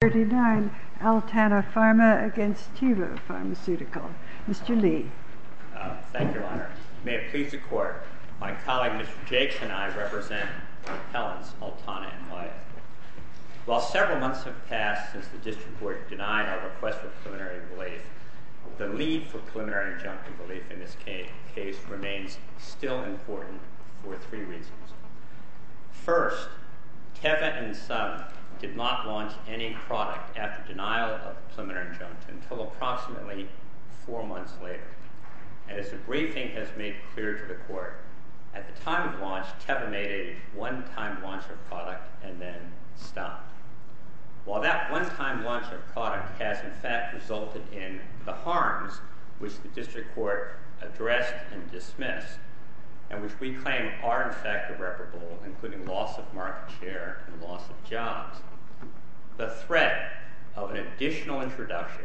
39, Altana Pharma v. Teva Pharmaceutical Mr. Lee Thank you, Your Honor. May it please the Court, my colleague Mr. Jakes and I represent the appellants Altana and Wyatt. While several months have passed since the district court denied our request for preliminary relief, the need for preliminary injunctive relief in this case remains still important for three reasons. First, Teva and some did not launch any product after denial of preliminary injunctive until approximately four months later. As the briefing has made clear to the Court, at the time of launch, Teva made a one-time launch of product and then stopped. While that one-time launch of product has in fact resulted in the harms which the district court addressed and dismissed, and which we claim are in fact irreparable, including loss of market share and loss of jobs, the threat of an additional introduction,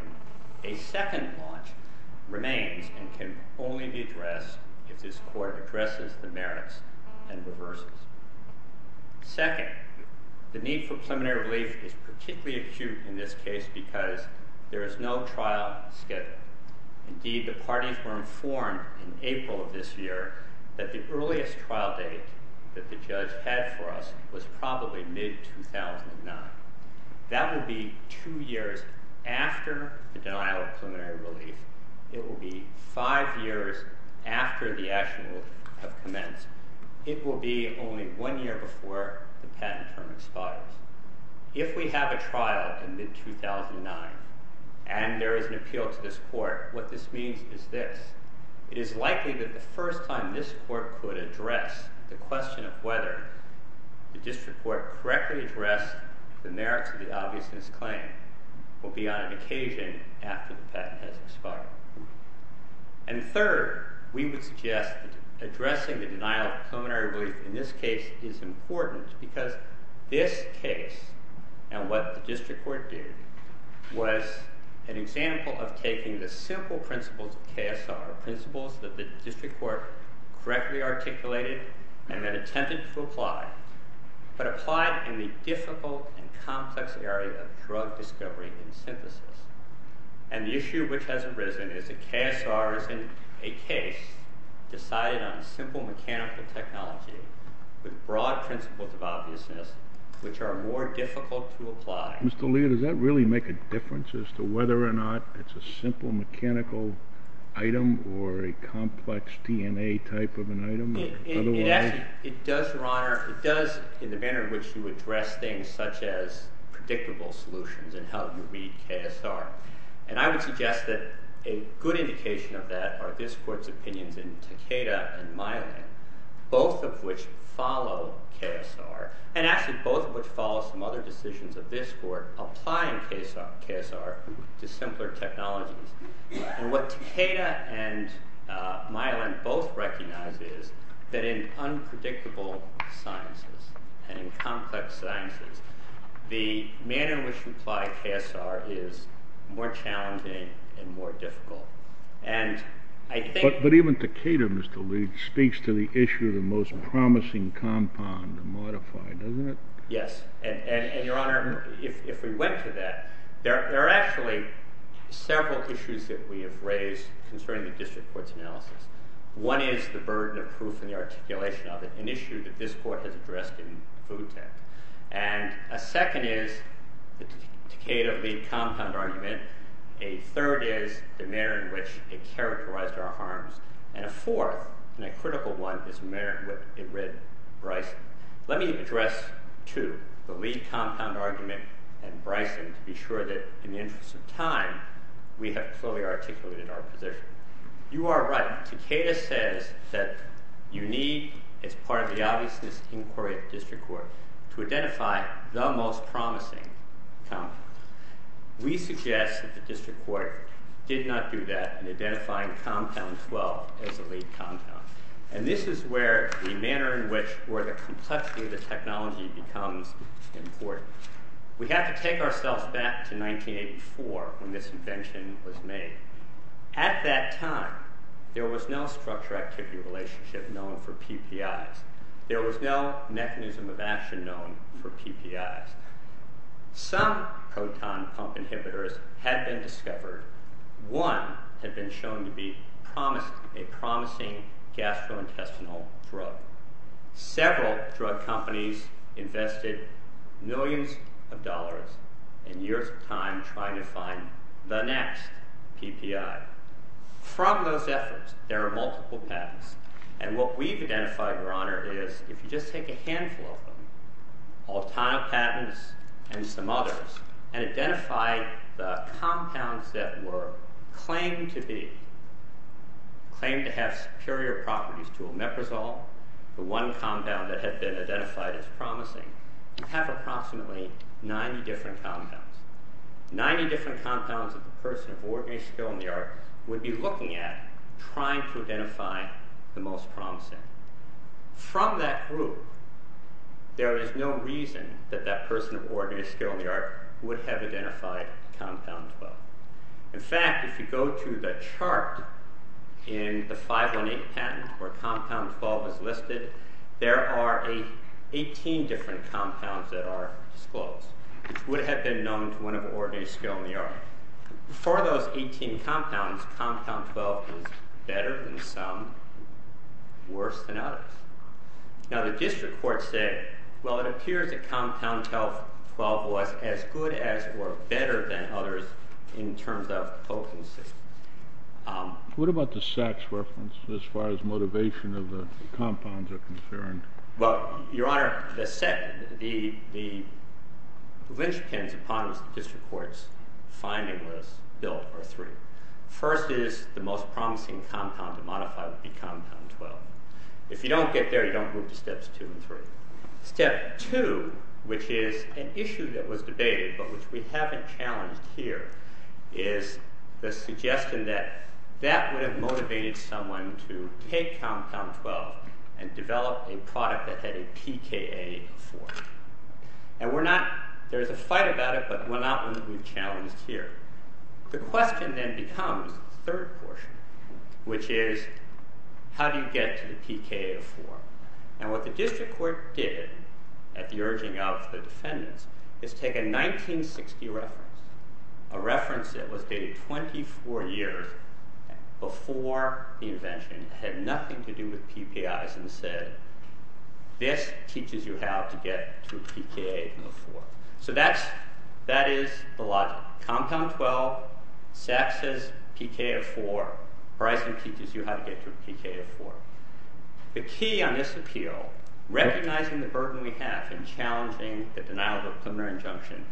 a second launch, remains and can only be addressed if this Court addresses the merits and reverses. Second, the need for preliminary relief is particularly acute in this case because there is no trial scheduled. Indeed, the parties were informed in April of this year that the earliest trial date that the judge had for us was probably mid-2009. That would be two years after the denial of preliminary relief. It would be five years after the action would have commenced. It would be only one year before the patent term expires. If we have a trial in mid-2009, and there is an appeal to this Court, what this means is this. It is likely that the first time this Court could address the question of whether the district court correctly addressed the merits of the obviousness claim will be on an occasion after the patent has expired. And third, we would suggest that addressing the denial of preliminary relief in this case is important because this case and what the district court did was an example of taking the simple principles of KSR, principles that the district court correctly articulated and then attempted to apply, but applied in the difficult and complex area of drug discovery and synthesis. And the issue which has arisen is that KSR is in a case decided on simple mechanical technology with broad principles of obviousness which are more difficult to apply. Mr. Lee, does that really make a difference as to whether or not it's a simple mechanical item or a complex DNA type of an item? It does, Your Honor. It does in the manner in which you address things such as predictable solutions and how you read KSR. And I would suggest that a good indication of that are this Court's opinions in Takeda and Myelin, both of which follow KSR and actually both of which follow some other decisions of this Court applying KSR to simpler technologies. And what Takeda and Myelin both recognize is that in unpredictable sciences and in complex sciences, the manner in which you apply KSR is more challenging and more difficult. But even Takeda, Mr. Lee, speaks to the issue of the most promising compound to modify, doesn't it? Yes. And, Your Honor, if we went to that, there are actually several issues that we have raised concerning the District Court's analysis. One is the burden of proof and the articulation of it, an issue that this Court has addressed in food tech. And a second is the Takeda-Lee compound argument. A third is the manner in which it characterized our harms. And a fourth, and a critical one, is the manner in which it read Bryson. Let me address, too, the Lee compound argument and Bryson to be sure that, in the interest of time, we have fully articulated our position. You are right. Takeda says that you need, as part of the obviousness inquiry of the District Court, to identify the most promising compound. We suggest that the District Court did not do that in identifying compound 12 as the Lee compound. And this is where the manner in which, or the complexity of the technology becomes important. We have to take ourselves back to 1984 when this invention was made. At that time, there was no structure-activity relationship known for PPIs. There was no mechanism of action known for PPIs. Some proton pump inhibitors had been discovered. One had been shown to be a promising gastrointestinal drug. Several drug companies invested millions of dollars and years of time trying to find the next PPI. From those efforts, there are multiple patents. And what we've identified, Your Honor, is, if you just take a handful of them, Altona patents and some others, and identify the compounds that were claimed to be, claimed to have superior properties to Omeprazole, the one compound that had been identified as promising, you'd have approximately 90 different compounds. 90 different compounds that the person of ordinary skill in the art would be looking at trying to identify the most promising. From that group, there is no reason that that person of ordinary skill in the art would have identified Compound 12. In fact, if you go to the chart in the 518 patent where Compound 12 is listed, there are 18 different compounds that are disclosed, which would have been known to one of ordinary skill in the art. For those 18 compounds, Compound 12 is better than some, worse than others. Now, the district court said, well, it appears that Compound 12 was as good as or better than others in terms of potency. What about the sex reference, as far as motivation of the compounds are concerned? Well, Your Honor, the lynchpins upon which the district court's finding was built are three. First is the most promising compound to modify would be Compound 12. If you don't get there, you don't move to Steps 2 and 3. Step 2, which is an issue that was debated but which we haven't challenged here, is the suggestion that that would have motivated someone to take Compound 12 and develop a product that had a PKA of 4. There's a fight about it, but we're not going to be challenged here. The question then becomes the third portion, which is how do you get to the PKA of 4? What the district court did at the urging of the defendants is take a 1960 reference, a reference that was dated 24 years before the invention and had nothing to do with PPIs and said, this teaches you how to get to a PKA of 4. So that is the logic. Compound 12, Saks says PKA of 4, Bryson teaches you how to get to a PKA of 4. The key on this appeal, recognizing the burden we have in challenging the denial of a criminal injunction,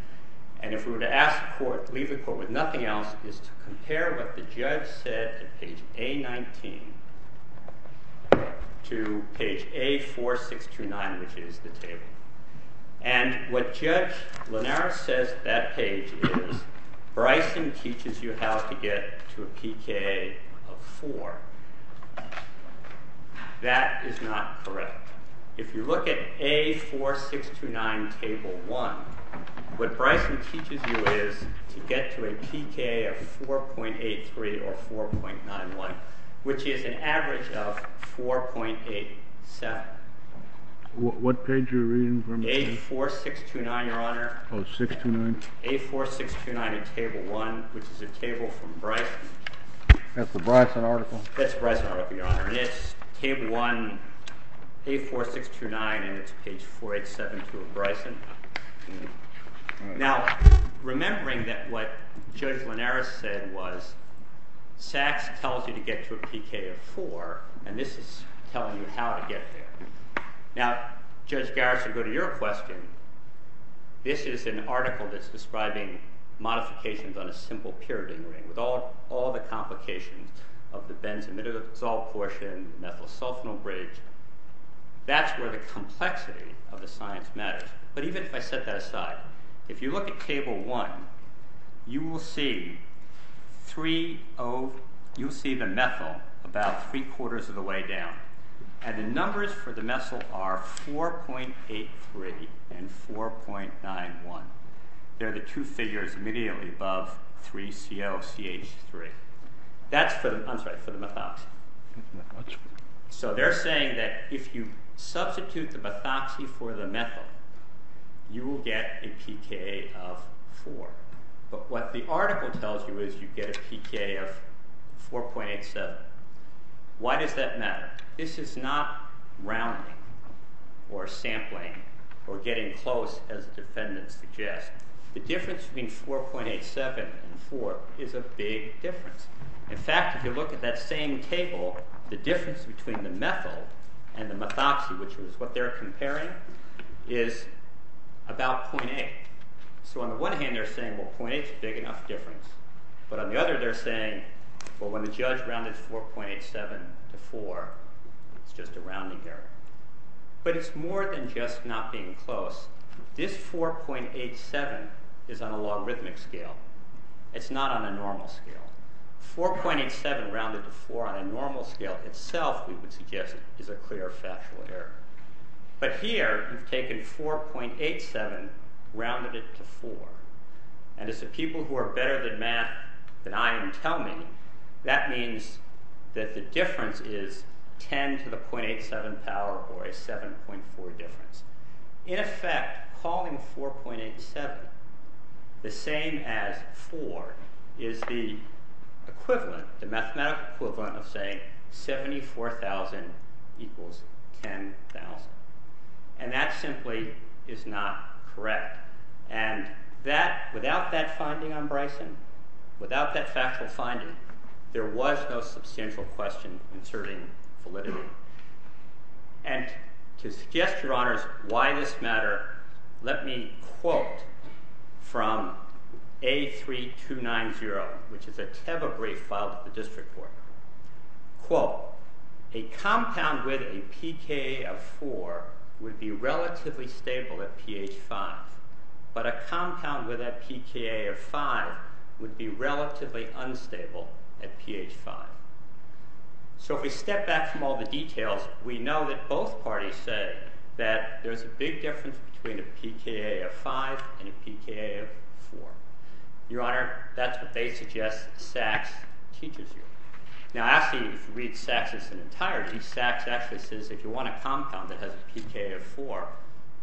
and if we were to ask the court, leave the court with nothing else, is to compare what the judge said at page A19 to page A4629, which is the table. And what Judge Lanara says at that page is, Bryson teaches you how to get to a PKA of 4. That is not correct. If you look at A4629 table 1, what Bryson teaches you is to get to a PKA of 4.83 or 4.91, which is an average of 4.87. What page are you reading from? A4629, Your Honor. Oh, 629? A4629 in table 1, which is a table from Bryson. That's the Bryson article? That's the Bryson article, Your Honor. And it's table 1, A4629, and it's page 4872 of Bryson. Now, remembering that what Judge Lanara said was, Sachs tells you to get to a PKA of 4, and this is telling you how to get there. Now, Judge Garrison, to go to your question, this is an article that's describing modifications on a simple pyridine ring with all the complications of the benzimidazole portion, methyl sulfonyl bridge. That's where the complexity of the science matters. But even if I set that aside, if you look at table 1, you will see the methyl about three-quarters of the way down, and the numbers for the methyl are 4.83 and 4.91. They're the two figures immediately above 3ClCH3. That's for the methoxy. So they're saying that if you substitute the methoxy for the methyl, you will get a PKA of 4. But what the article tells you is you get a PKA of 4.87. Why does that matter? This is not rounding or sampling or getting close, as the defendant suggests. The difference between 4.87 and 4 is a big difference. In fact, if you look at that same table, the difference between the methyl and the methoxy, which is what they're comparing, is about 0.8. So on the one hand, they're saying, well, 0.8 is a big enough difference. But on the other, they're saying, well, when the judge rounded 4.87 to 4, it's just a rounding error. But it's more than just not being close. This 4.87 is on a logarithmic scale. It's not on a normal scale. 4.87 rounded to 4 on a normal scale itself, we would suggest, is a clear factual error. But here, you've taken 4.87, rounded it to 4. And as the people who are better at math than I am tell me, that means that the difference is 10 to the 0.87 power or a 7.4 difference. In effect, calling 4.87 the same as 4 is the equivalent, the mathematical equivalent, of saying 74,000 equals 10,000. And that simply is not correct. And without that finding on Bryson, without that factual finding, there was no substantial question inserting validity. And to suggest, Your Honors, why this matter, let me quote from A3290, which is a Teva brief filed at the district court. Quote, a compound with a pKa of 4 would be relatively stable at pH 5, but a compound with a pKa of 5 would be relatively unstable at pH 5. So if we step back from all the details, we know that both parties say that there's a big difference between a pKa of 5 and a pKa of 4. Your Honor, that's what they suggest Sachs teaches you. Now, actually, if you read Sachs' entirety, Sachs actually says, if you want a compound that has a pKa of 4,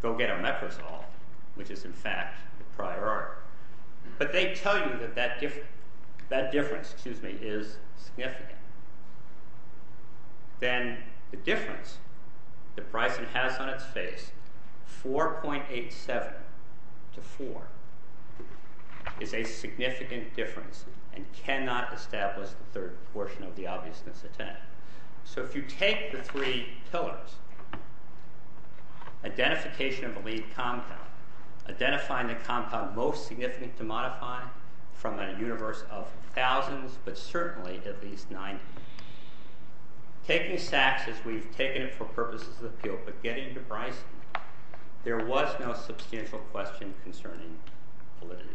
go get Omeprazole, which is, in fact, the prior art. But they tell you that that difference is significant. Then the difference that Bryson has on its face, 4.87 to 4, is a significant difference and cannot establish the third portion of the obviousness of 10. So if you take the three pillars, identification of a lead compound, identifying the compound most significant to modify from a universe of thousands, but certainly at least 90, taking Sachs as we've taken it for purposes of appeal, but getting to Bryson, there was no substantial question concerning validity.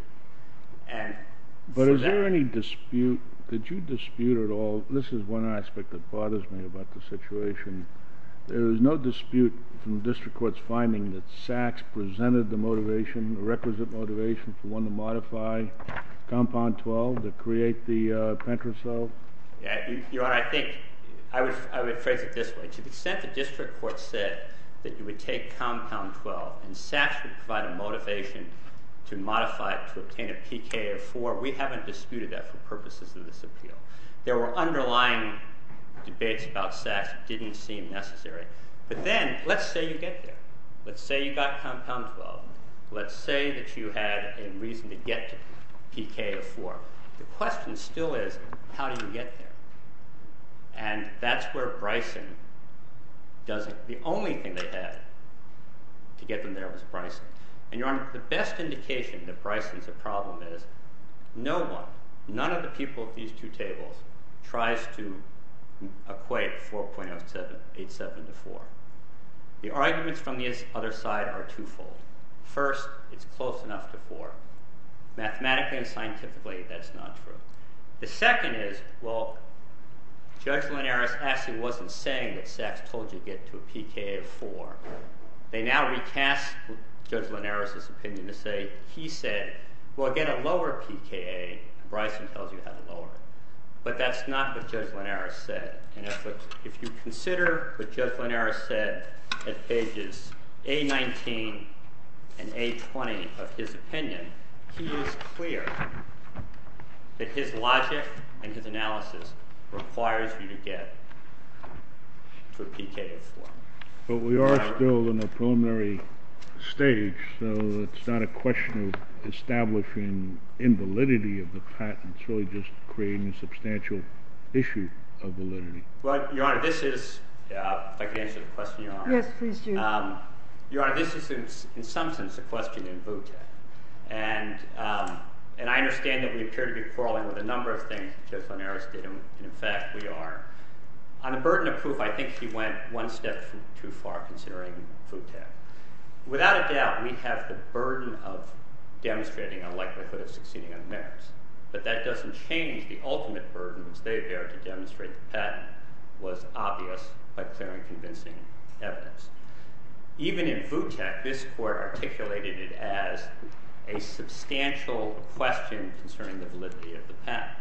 But is there any dispute? Did you dispute at all? This is one aspect that bothers me about the situation. There is no dispute from district courts finding that Sachs presented the requisite motivation for one to modify compound 12 to create the Pentrazole. Your Honor, I would phrase it this way. To the extent the district court said that you would take compound 12 and Sachs would provide a motivation to modify it to obtain a pKa of 4, we haven't disputed that for purposes of this appeal. There were underlying debates about Sachs that didn't seem necessary. But then, let's say you get there. Let's say you got compound 12. Let's say that you had a reason to get to pKa of 4. The question still is, how do you get there? And that's where Bryson doesn't... The only thing they had to get them there was Bryson. And Your Honor, the best indication that Bryson's a problem is no one, none of the people at these two tables tries to equate 4.87 to 4. The arguments from the other side are twofold. First, it's close enough to 4. Mathematically and scientifically, that's not true. The second is, well, Judge Linares actually wasn't saying that Sachs told you to get to a pKa of 4. They now recast Judge Linares' opinion to say, he said, well, get a lower pKa. Bryson tells you how to lower it. But that's not what Judge Linares said. And if you consider what Judge Linares said at pages A-19 and A-20 of his opinion, he is clear that his logic and his analysis requires you to get to a pKa of 4. But we are still in the preliminary stage, so it's not a question of establishing invalidity of the patent. It's really just creating a substantial issue of validity. Your Honor, this is, if I can answer the question, Your Honor. Yes, please do. Your Honor, this is, in some sense, a question in VUTA. And I understand that we appear to be quarreling with a number of things that Judge Linares did. And in fact, we are. On the burden of proof, I think he went one step too far considering VUTA. Without a doubt, we have the burden of demonstrating a likelihood of succeeding on the merits. But that doesn't change. The ultimate burden, which they bear to demonstrate the patent, was obvious by clearly convincing evidence. Even in VUTA, this court articulated it as a substantial question concerning the validity of the patent.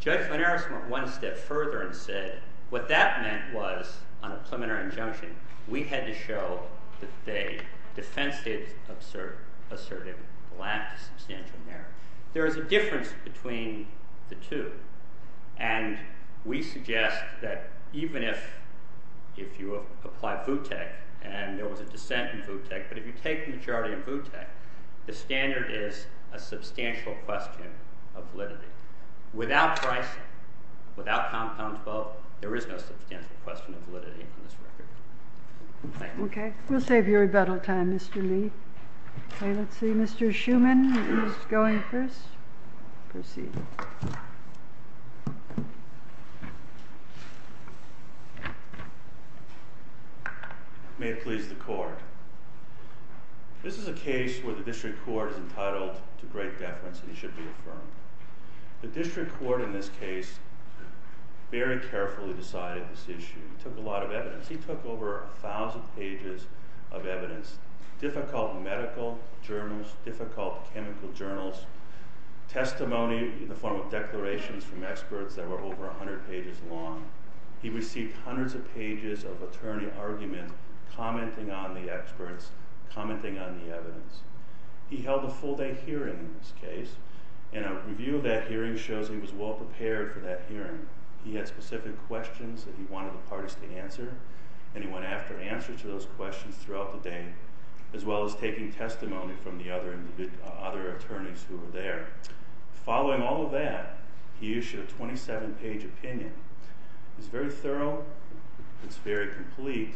Judge Linares went one step further and said what that meant was, on a preliminary injunction, we had to show that they defensively asserted a lack of substantial merit. There is a difference between the two. And we suggest that even if you apply VUTA, and there was a dissent in VUTA, but if you take the majority in VUTA, the standard is a substantial question of validity. Without pricing, without compound default, there is no substantial question of validity in this record. Thank you. OK. We'll save you rebuttal time, Mr. Lee. OK, let's see. Mr. Schuman is going first. Proceed. May it please the court. This is a case where the district court is entitled to great deference, and he should be affirmed. The district court in this case very carefully decided this issue. It took a lot of evidence. He took over 1,000 pages of evidence, difficult medical journals, difficult chemical journals, testimony in the form of declarations from experts that were over 100 pages long. He received hundreds of pages of attorney argument commenting on the experts, commenting on the evidence. He held a full day hearing in this case and a review of that hearing shows he was well prepared for that hearing. He had specific questions that he wanted the parties to answer, and he went after answers to those questions throughout the day, as well as taking testimony from the other attorneys who were there. Following all of that, he issued a 27-page opinion. It's very thorough. It's very complete.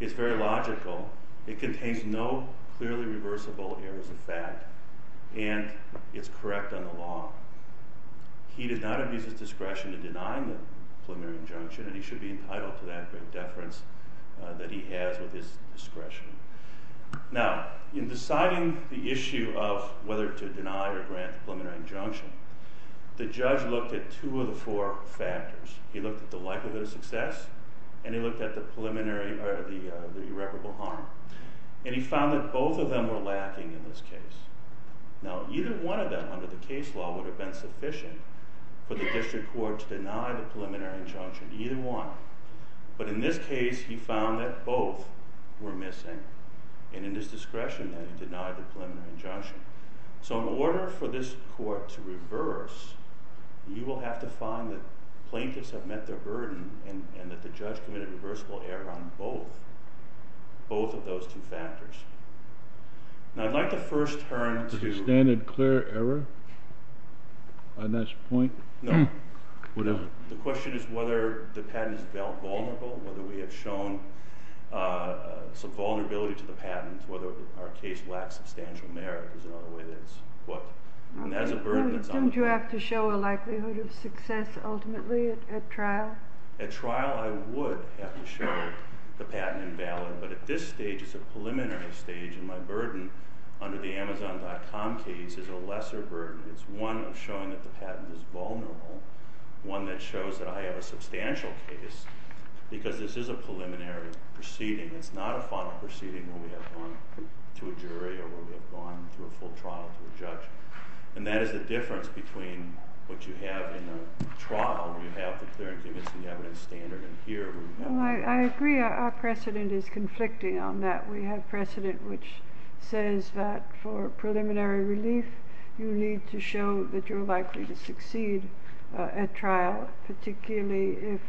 It's very logical. It contains no clearly reversible errors of fact. And it's correct on the law. He did not abuse his discretion in denying the preliminary injunction, and he should be entitled to that great deference that he has with his discretion. Now, in deciding the issue of whether to deny or grant the preliminary injunction, the judge looked at two of the four factors. He looked at the likelihood of success, and he looked at the irreparable harm. And he found that both of them were lacking in this case. Now, either one of them under the case law would have been sufficient for the district court to deny the preliminary injunction, either one. But in this case, he found that both were missing. And in his discretion, then, he denied the preliminary injunction. So in order for this court to reverse, you will have to find that plaintiffs have met their burden and that the judge committed a reversible error on both. Both of those two factors. Now, I'd like to first turn to... Is the standard clear error on this point? No. What is it? The question is whether the patent is now vulnerable, whether we have shown some vulnerability to the patent, whether our case lacks substantial merit. There's another way that it's put. And that's a burden that's on the court. Don't you have to show a likelihood of success ultimately at trial? At trial, I would have to show the patent invalid. But at this stage, it's a preliminary stage, and my burden under the Amazon.com case is a lesser burden. It's one of showing that the patent is vulnerable, one that shows that I have a substantial case, because this is a preliminary proceeding. It's not a final proceeding where we have gone to a jury or where we have gone through a full trial to a judge. And that is the difference between what you have in the trial, where you have the clearance limits and the evidence standard, and here where you have... I agree. Our precedent is conflicting on that. We have precedent which says that for preliminary relief, you need to show that you're likely to succeed at trial, particularly if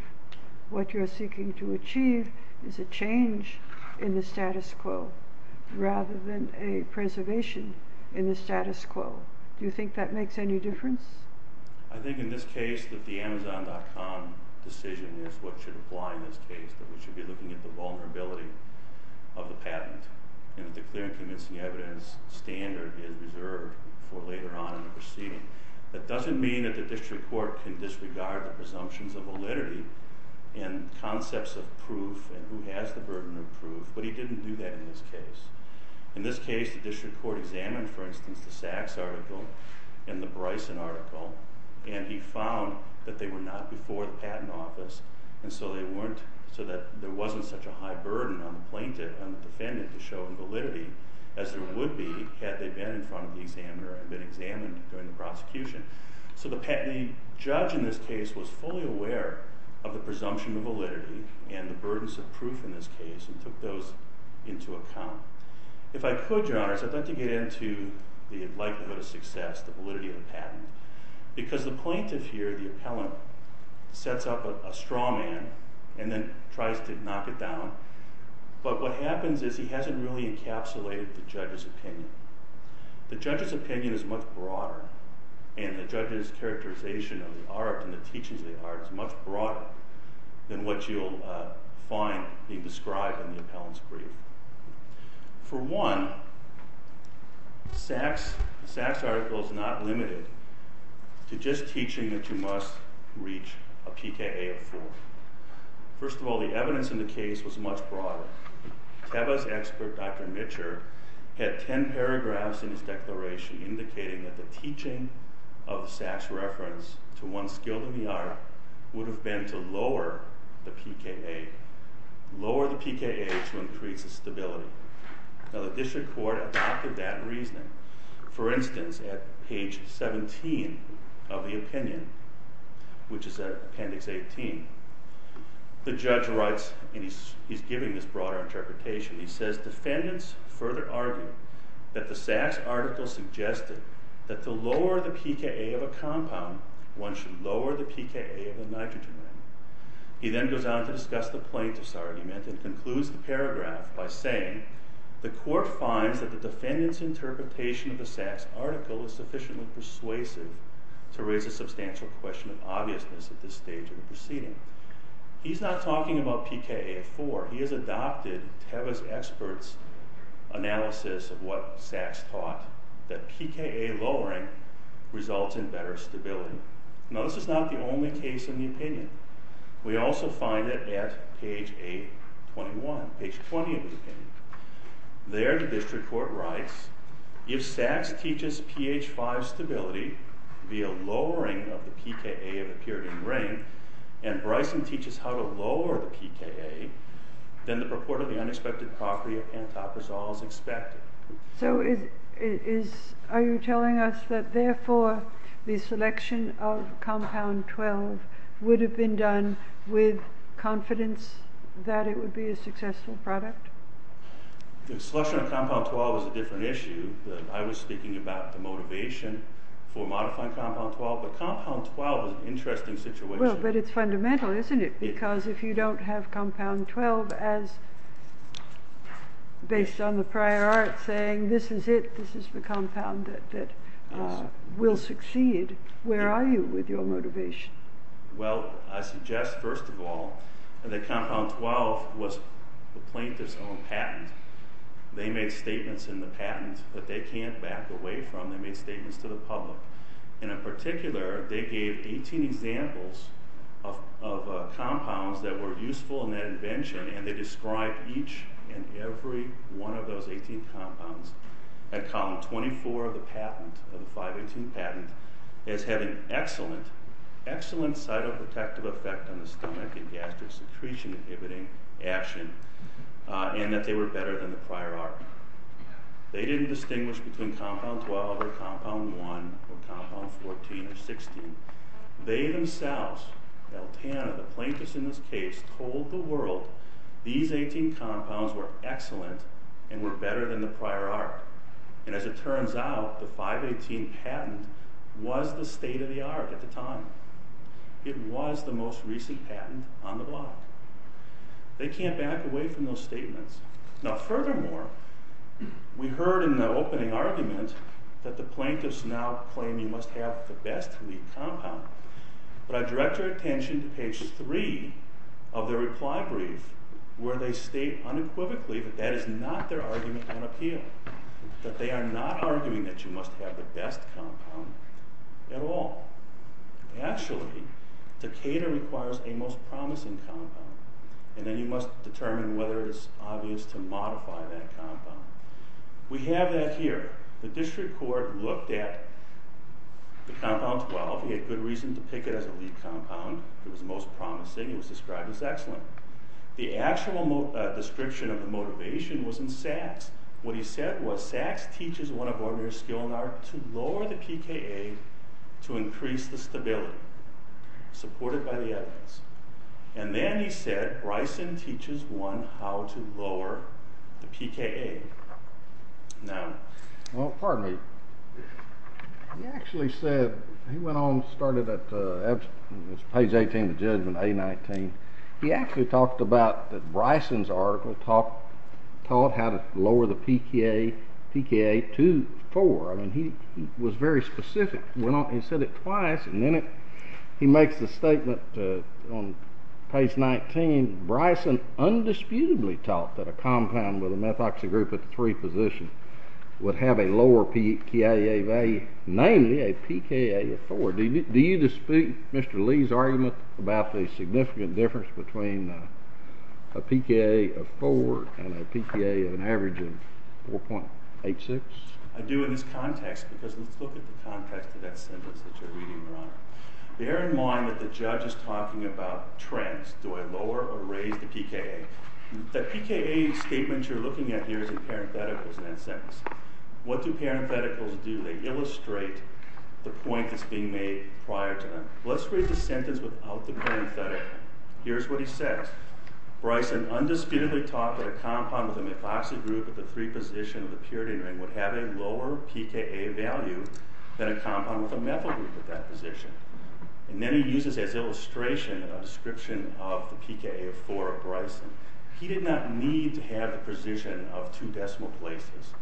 what you're seeking to achieve is a change in the status quo rather than a preservation in the status quo. Do you think that makes any difference? I think in this case that the Amazon.com decision is what should apply in this case, that we should be looking at the vulnerability of the patent and that the clear and convincing evidence standard is reserved for later on in the proceeding. That doesn't mean that the district court can disregard the presumptions of validity and concepts of proof and who has the burden of proof, but he didn't do that in this case. In this case, the district court examined, for instance, the Sachs article and the Bryson article, and he found that they were not before the patent office, and so there wasn't such a high burden on the defendant to show validity as there would be had they been in front of the examiner and been examined during the prosecution. So the judge in this case was fully aware of the presumption of validity and the burdens of proof in this case and took those into account. If I could, Your Honors, I'd like to get into the likelihood of success, the validity of the patent, because the plaintiff here, the appellant, sets up a straw man and then tries to knock it down, but what happens is he hasn't really encapsulated the judge's opinion. The judge's opinion is much broader, and the judge's characterization of the art and the teachings of the art is much broader than what you'll find being described in the appellant's brief. For one, Sack's article is not limited to just teaching that you must reach a PKA of 4. First of all, the evidence in the case was much broader. Teva's expert, Dr. Mitcher, had 10 paragraphs in his declaration indicating that the teaching of Sack's reference would have been to lower the PKA, lower the PKA to increase the stability. Now, the district court adopted that reasoning. For instance, at page 17 of the opinion, which is appendix 18, the judge writes, and he's giving this broader interpretation, he says, Defendants further argue that the Sack's article suggested that to lower the PKA of a compound, one should lower the PKA of a nitrogen ring. He then goes on to discuss the plaintiff's argument and concludes the paragraph by saying, The court finds that the defendant's interpretation of the Sack's article is sufficiently persuasive to raise a substantial question of obviousness at this stage of the proceeding. He's not talking about PKA of 4. He has adopted Teva's expert's analysis of what Sack's taught, that PKA lowering results in better stability. Now, this is not the only case in the opinion. We also find it at page 8, 21, page 20 of the opinion. There, the district court writes, If Sack's teaches PH5 stability via lowering of the PKA of a pyridine ring, and Bryson teaches how to lower the PKA, then the purport of the unexpected property So, are you telling us that, therefore, the selection of Compound 12 would have been done with confidence that it would be a successful product? The selection of Compound 12 is a different issue. I was speaking about the motivation for modifying Compound 12, but Compound 12 is an interesting situation. But it's fundamental, isn't it? Because if you don't have Compound 12 as based on the prior art, saying this is it, this is the compound that will succeed, where are you with your motivation? Well, I suggest, first of all, that Compound 12 was the plaintiff's own patent. They made statements in the patent that they can't back away from. They made statements to the public. And in particular, they gave 18 examples of compounds that were useful in that invention, and they described each and every one of those 18 compounds at column 24 of the patent, of the 518 patent, as having excellent, excellent cytoprotective effect on the stomach and gastric secretion inhibiting action, and that they were better than the prior art. They didn't distinguish between Compound 12 or Compound 1 or Compound 14 or 16. They themselves, El Tano, the plaintiffs in this case, told the world these 18 compounds were excellent and were better than the prior art. And as it turns out, the 518 patent was the state-of-the-art at the time. It was the most recent patent on the block. They can't back away from those statements. Now, furthermore, we heard in the opening argument that the plaintiffs now claim you must have the best lead compound. But I direct your attention to page 3 of their reply brief, where they state unequivocally that that is not their argument on appeal, that they are not arguing that you must have the best compound at all. Actually, to cater requires a most promising compound, and then you must determine whether it's obvious to modify that compound. We have that here. The district court looked at the Compound 12. He had good reason to pick it as a lead compound. It was the most promising. It was described as excellent. The actual description of the motivation was in Sachs. What he said was, Sachs teaches one of Ormear's skill in art to lower the PKA to increase the stability, supported by the evidence. And then he said, Bryson teaches one how to lower the PKA. Now... Well, pardon me. He actually said... He went on and started at... It was page 18 of the judgment, A-19. He actually talked about that Bryson's article taught how to lower the PKA to 4. I mean, he was very specific. He went on and said it twice, and then he makes the statement on page 19, Bryson undisputably taught that a compound with a methoxy group at the 3 position would have a lower PKA value, namely a PKA of 4. Do you dispute Mr. Lee's argument about the significant difference between a PKA of 4 and a PKA of an average of 4.86? I do in this context, because let's look at the context of that sentence that you're reading, Your Honor. Bear in mind that the judge is talking about trends. Do I lower or raise the PKA? The PKA statement you're looking at here is in parentheticals in that sentence. What do parentheticals do? They illustrate the point that's being made prior to that. Let's read the sentence without the parenthetical. Here's what he says. Bryson undisputedly taught that a compound with a methoxy group at the 3 position of the purity ring would have a lower PKA value than a compound with a methyl group at that position. And then he uses as illustration a description of the PKA of 4 of Bryson. He did not need to have the precision of 2 decimal places.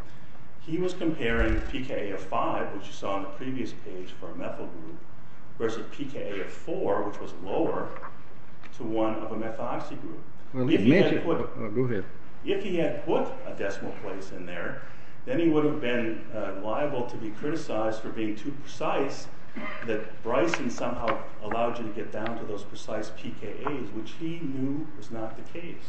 He was comparing PKA of 5, which you saw on the previous page for a methyl group, versus PKA of 4, which was lower, to one of a methoxy group. If he had put a decimal place in there, then he would have been liable to be criticized for being too precise that Bryson somehow allowed you to get down to those precise PKAs, which he knew was not the case.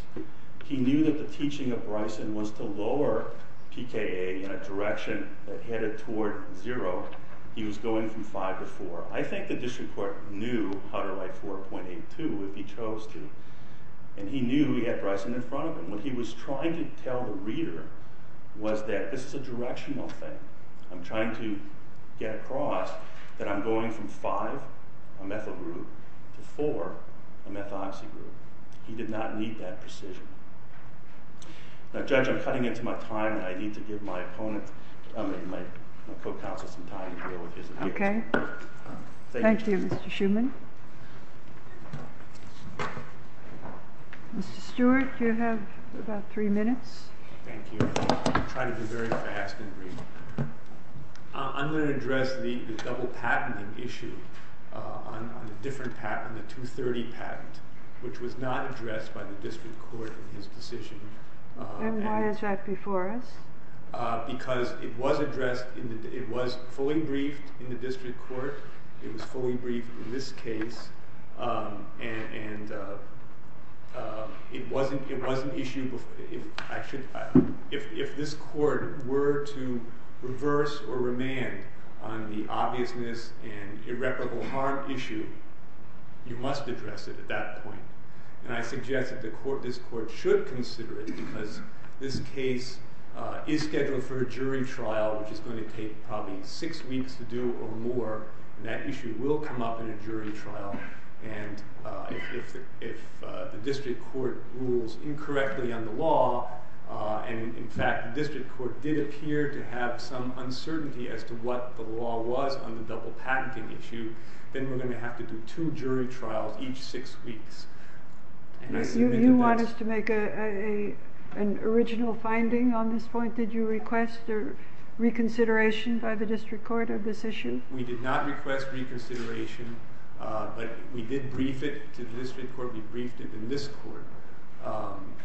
He knew that the teaching of Bryson was to lower PKA in a direction that headed toward 0. He was going from 5 to 4. I think the district court knew how to write 4.82, if he chose to, and he knew he had Bryson in front of him. What he was trying to tell the reader was that this is a directional thing. I'm trying to get across that I'm going from 5, a methyl group, to 4, a methoxy group. He did not need that precision. Now, Judge, I'm cutting into my time, and I need to give my opponent, my co-counsel, some time to deal with his analysis. Okay. Thank you, Mr. Shuman. Mr. Stewart, you have about three minutes. Thank you. I'm trying to be very fast and brief. I'm going to address the double-patenting issue on the different patent, the 230 patent, which was not addressed by the district court in his decision. Then why is that before us? Because it was addressed... It was fully briefed in the district court. It was fully briefed in this case, and it was an issue... If this court were to reverse or remand on the obviousness and irreparable harm issue, you must address it at that point. And I suggest that this court should consider it, because this case is scheduled for a jury trial, which is going to take probably six weeks to do or more, and that issue will come up in a jury trial. And if the district court rules incorrectly on the law, and, in fact, the district court did appear to have some uncertainty as to what the law was on the double-patenting issue, then we're going to have to do two jury trials each six weeks. You want us to make an original finding on this point? Did you request reconsideration by the district court of this issue? We did not request reconsideration, but we did brief it to the district court. We briefed it in this court.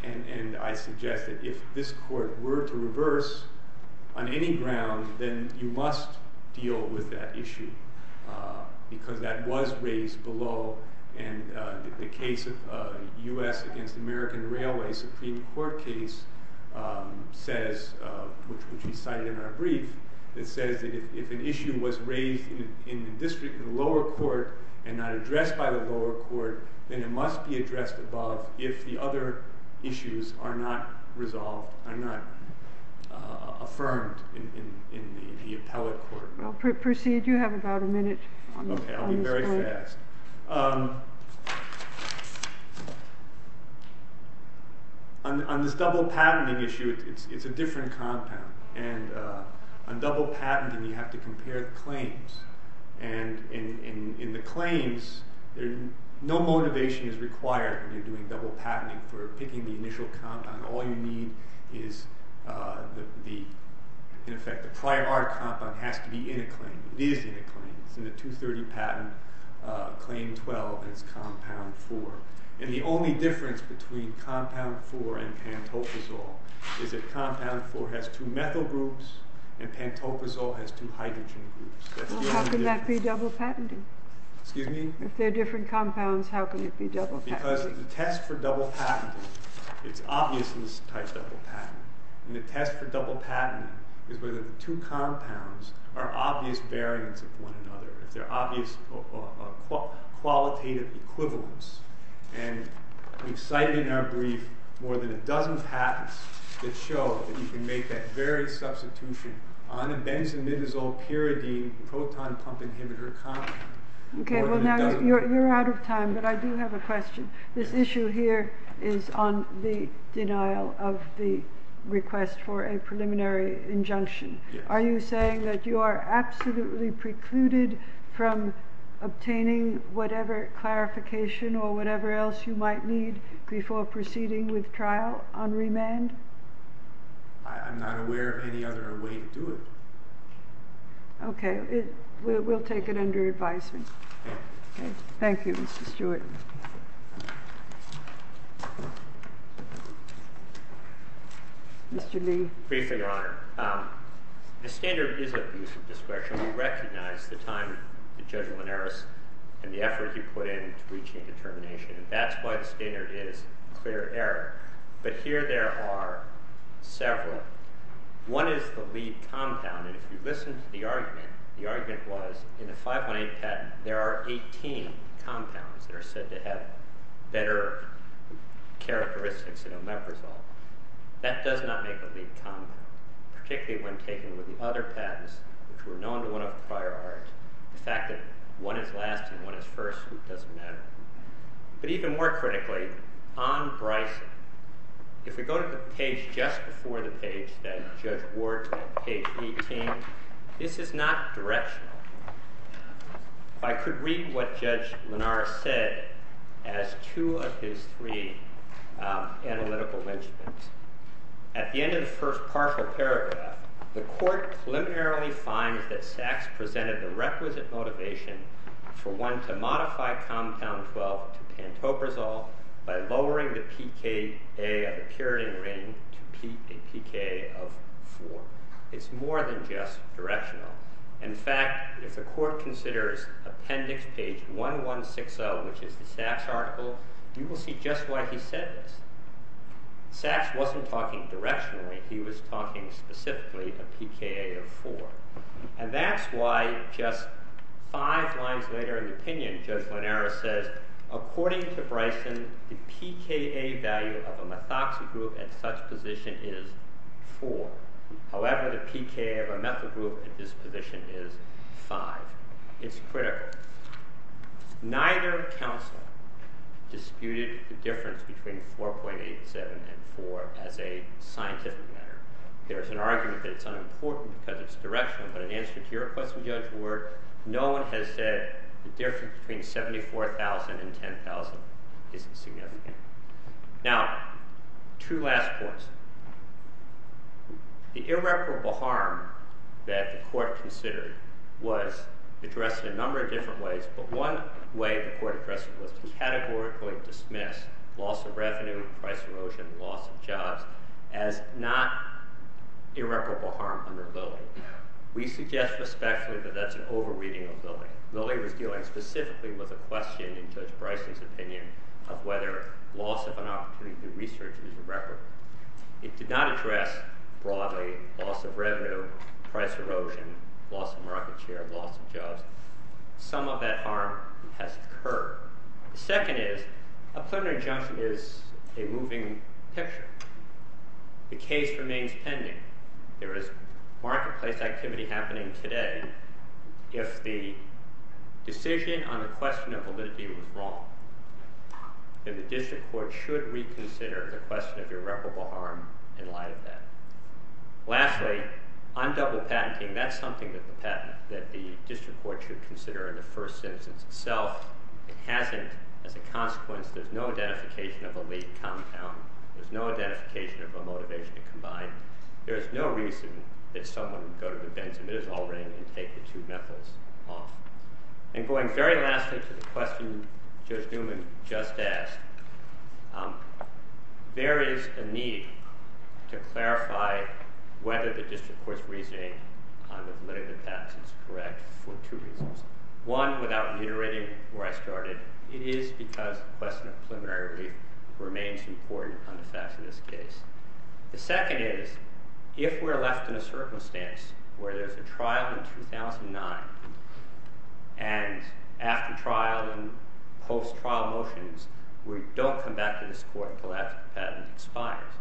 And I suggest that if this court were to reverse on any ground, then you must deal with that issue, because that was raised below. And the case of U.S. against American Railway Supreme Court case says, which we cite in our brief, it says that if an issue was raised in the district in the lower court and not addressed by the lower court, then it must be addressed above if the other issues are not resolved, are not affirmed in the appellate court. Well, proceed. You have about a minute on this point. Okay, I'll be very fast. On this double-patenting issue, it's a different compound. And on double-patenting, you have to compare claims. And in the claims, no motivation is required when you're doing double-patenting for picking the initial compound. All you need is, in effect, the prior compound has to be in a claim. It is in a claim. It's in the 230 patent, claim 12, and it's compound 4. And the only difference between compound 4 and pantofazol is that compound 4 has two methyl groups and pantofazol has two hydrogen groups. Well, how can that be double-patenting? Excuse me? If they're different compounds, how can it be double-patenting? Because the test for double-patenting is obvious in this type of double-patenting. And the test for double-patenting is whether the two compounds are obvious variants of one another, if they're obvious qualitative equivalents. And we've cited in our brief more than a dozen patents that show that you can make that very substitution on a benzimidazole-pyridine proton pump inhibitor compound. Okay, well now you're out of time, but I do have a question. This issue here is on the denial of the request for a preliminary injunction. Are you saying that you are absolutely precluded from obtaining whatever clarification or whatever else you might need before proceeding with trial on remand? I'm not aware of any other way to do it. Okay, we'll take it under advisement. Thank you, Mr. Stewart. Mr. Lee. Briefly, Your Honor. The standard is of use of discretion. We recognize the time that Judge Linares and the effort he put in to reaching a determination, and that's why the standard is clear error. But here there are several. One is the lead compound, and if you listen to the argument, the argument was in a 518 patent there are 18 compounds that are said to have better characteristics in omeprazole. That does not make a lead compound, particularly when taken with the other patents which were known to one of the prior arts. The fact that one is last and one is first doesn't matter. But even more critically, on Bryson, if we go to the page just before the page that Judge Ward's on, page 18, this is not directional. I could read what Judge Linares said as two of his three analytical mentions. At the end of the first partial paragraph, the court preliminarily finds that Sachs presented the requisite motivation for one to modify compound 12 to pantoprazole by lowering the pKa of the puriting ring to a pKa of 4. It's more than just directional. In fact, if the court considers appendix page 1160, which is the Sachs article, you will see just why he said this. Sachs wasn't talking directionally. He was talking specifically of pKa of 4. And that's why just five lines later in the opinion, Judge Linares says, according to Bryson, the pKa value of a methoxy group at such position is 4. However, the pKa of a methyl group at this position is 5. It's critical. Neither counsel disputed the difference between 4.87 and 4 as a scientific matter. There's an argument that it's unimportant because it's directional, but in answer to your question, Judge Ward, no one has said the difference between 74,000 and 10,000 isn't significant. Now, two last points. The irreparable harm that the court considered was addressed in a number of different ways, but one way the court addressed it was to categorically dismiss loss of revenue, price erosion, loss of jobs as not irreparable harm under Lilly. We suggest respectfully that that's an over-reading of Lilly. Lilly was dealing specifically with a question in Judge Bryson's opinion of whether loss of an opportunity to research is irreparable. It did not address broadly loss of revenue, price erosion, loss of market share, loss of jobs. Some of that harm has occurred. The second is a plenary injunction is a moving picture. The case remains pending. There is marketplace activity happening today. If the decision on the question of validity was wrong, then the district court should reconsider the question of irreparable harm in light of that. Lastly, on double patenting, that's something that the district court should consider in the first instance itself. It hasn't as a consequence. There's no identification of a lead compound. There's no identification of a motivation combined. There's no reason that someone would go to the benzimidazole ring and take the two methyls off. Going very lastly to the question Judge Newman just asked, there is a need to clarify whether the district court's reasoning on the validity of the patent is correct for two reasons. One, without reiterating where I started, it is because the question of preliminary relief remains important on the facts of this case. The second is, if we're left in a circumstance where there's a trial in 2009, and after trial and post-trial motions, we don't come back to this court until that patent expires,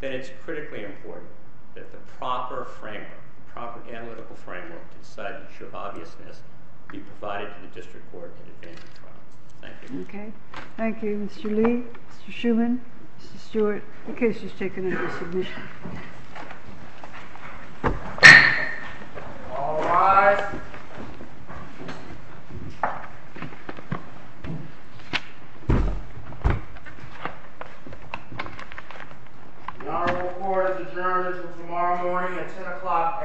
then it's critically important that the proper framework, the proper analytical framework to decide the issue of obviousness be provided to the district court in advance of the trial. Thank you. Thank you, Mr. Lee, Mr. Schuman, Mr. Stewart. The case is taken under submission. All rise. The honorable court is adjourned until tomorrow morning at 10 o'clock a.m.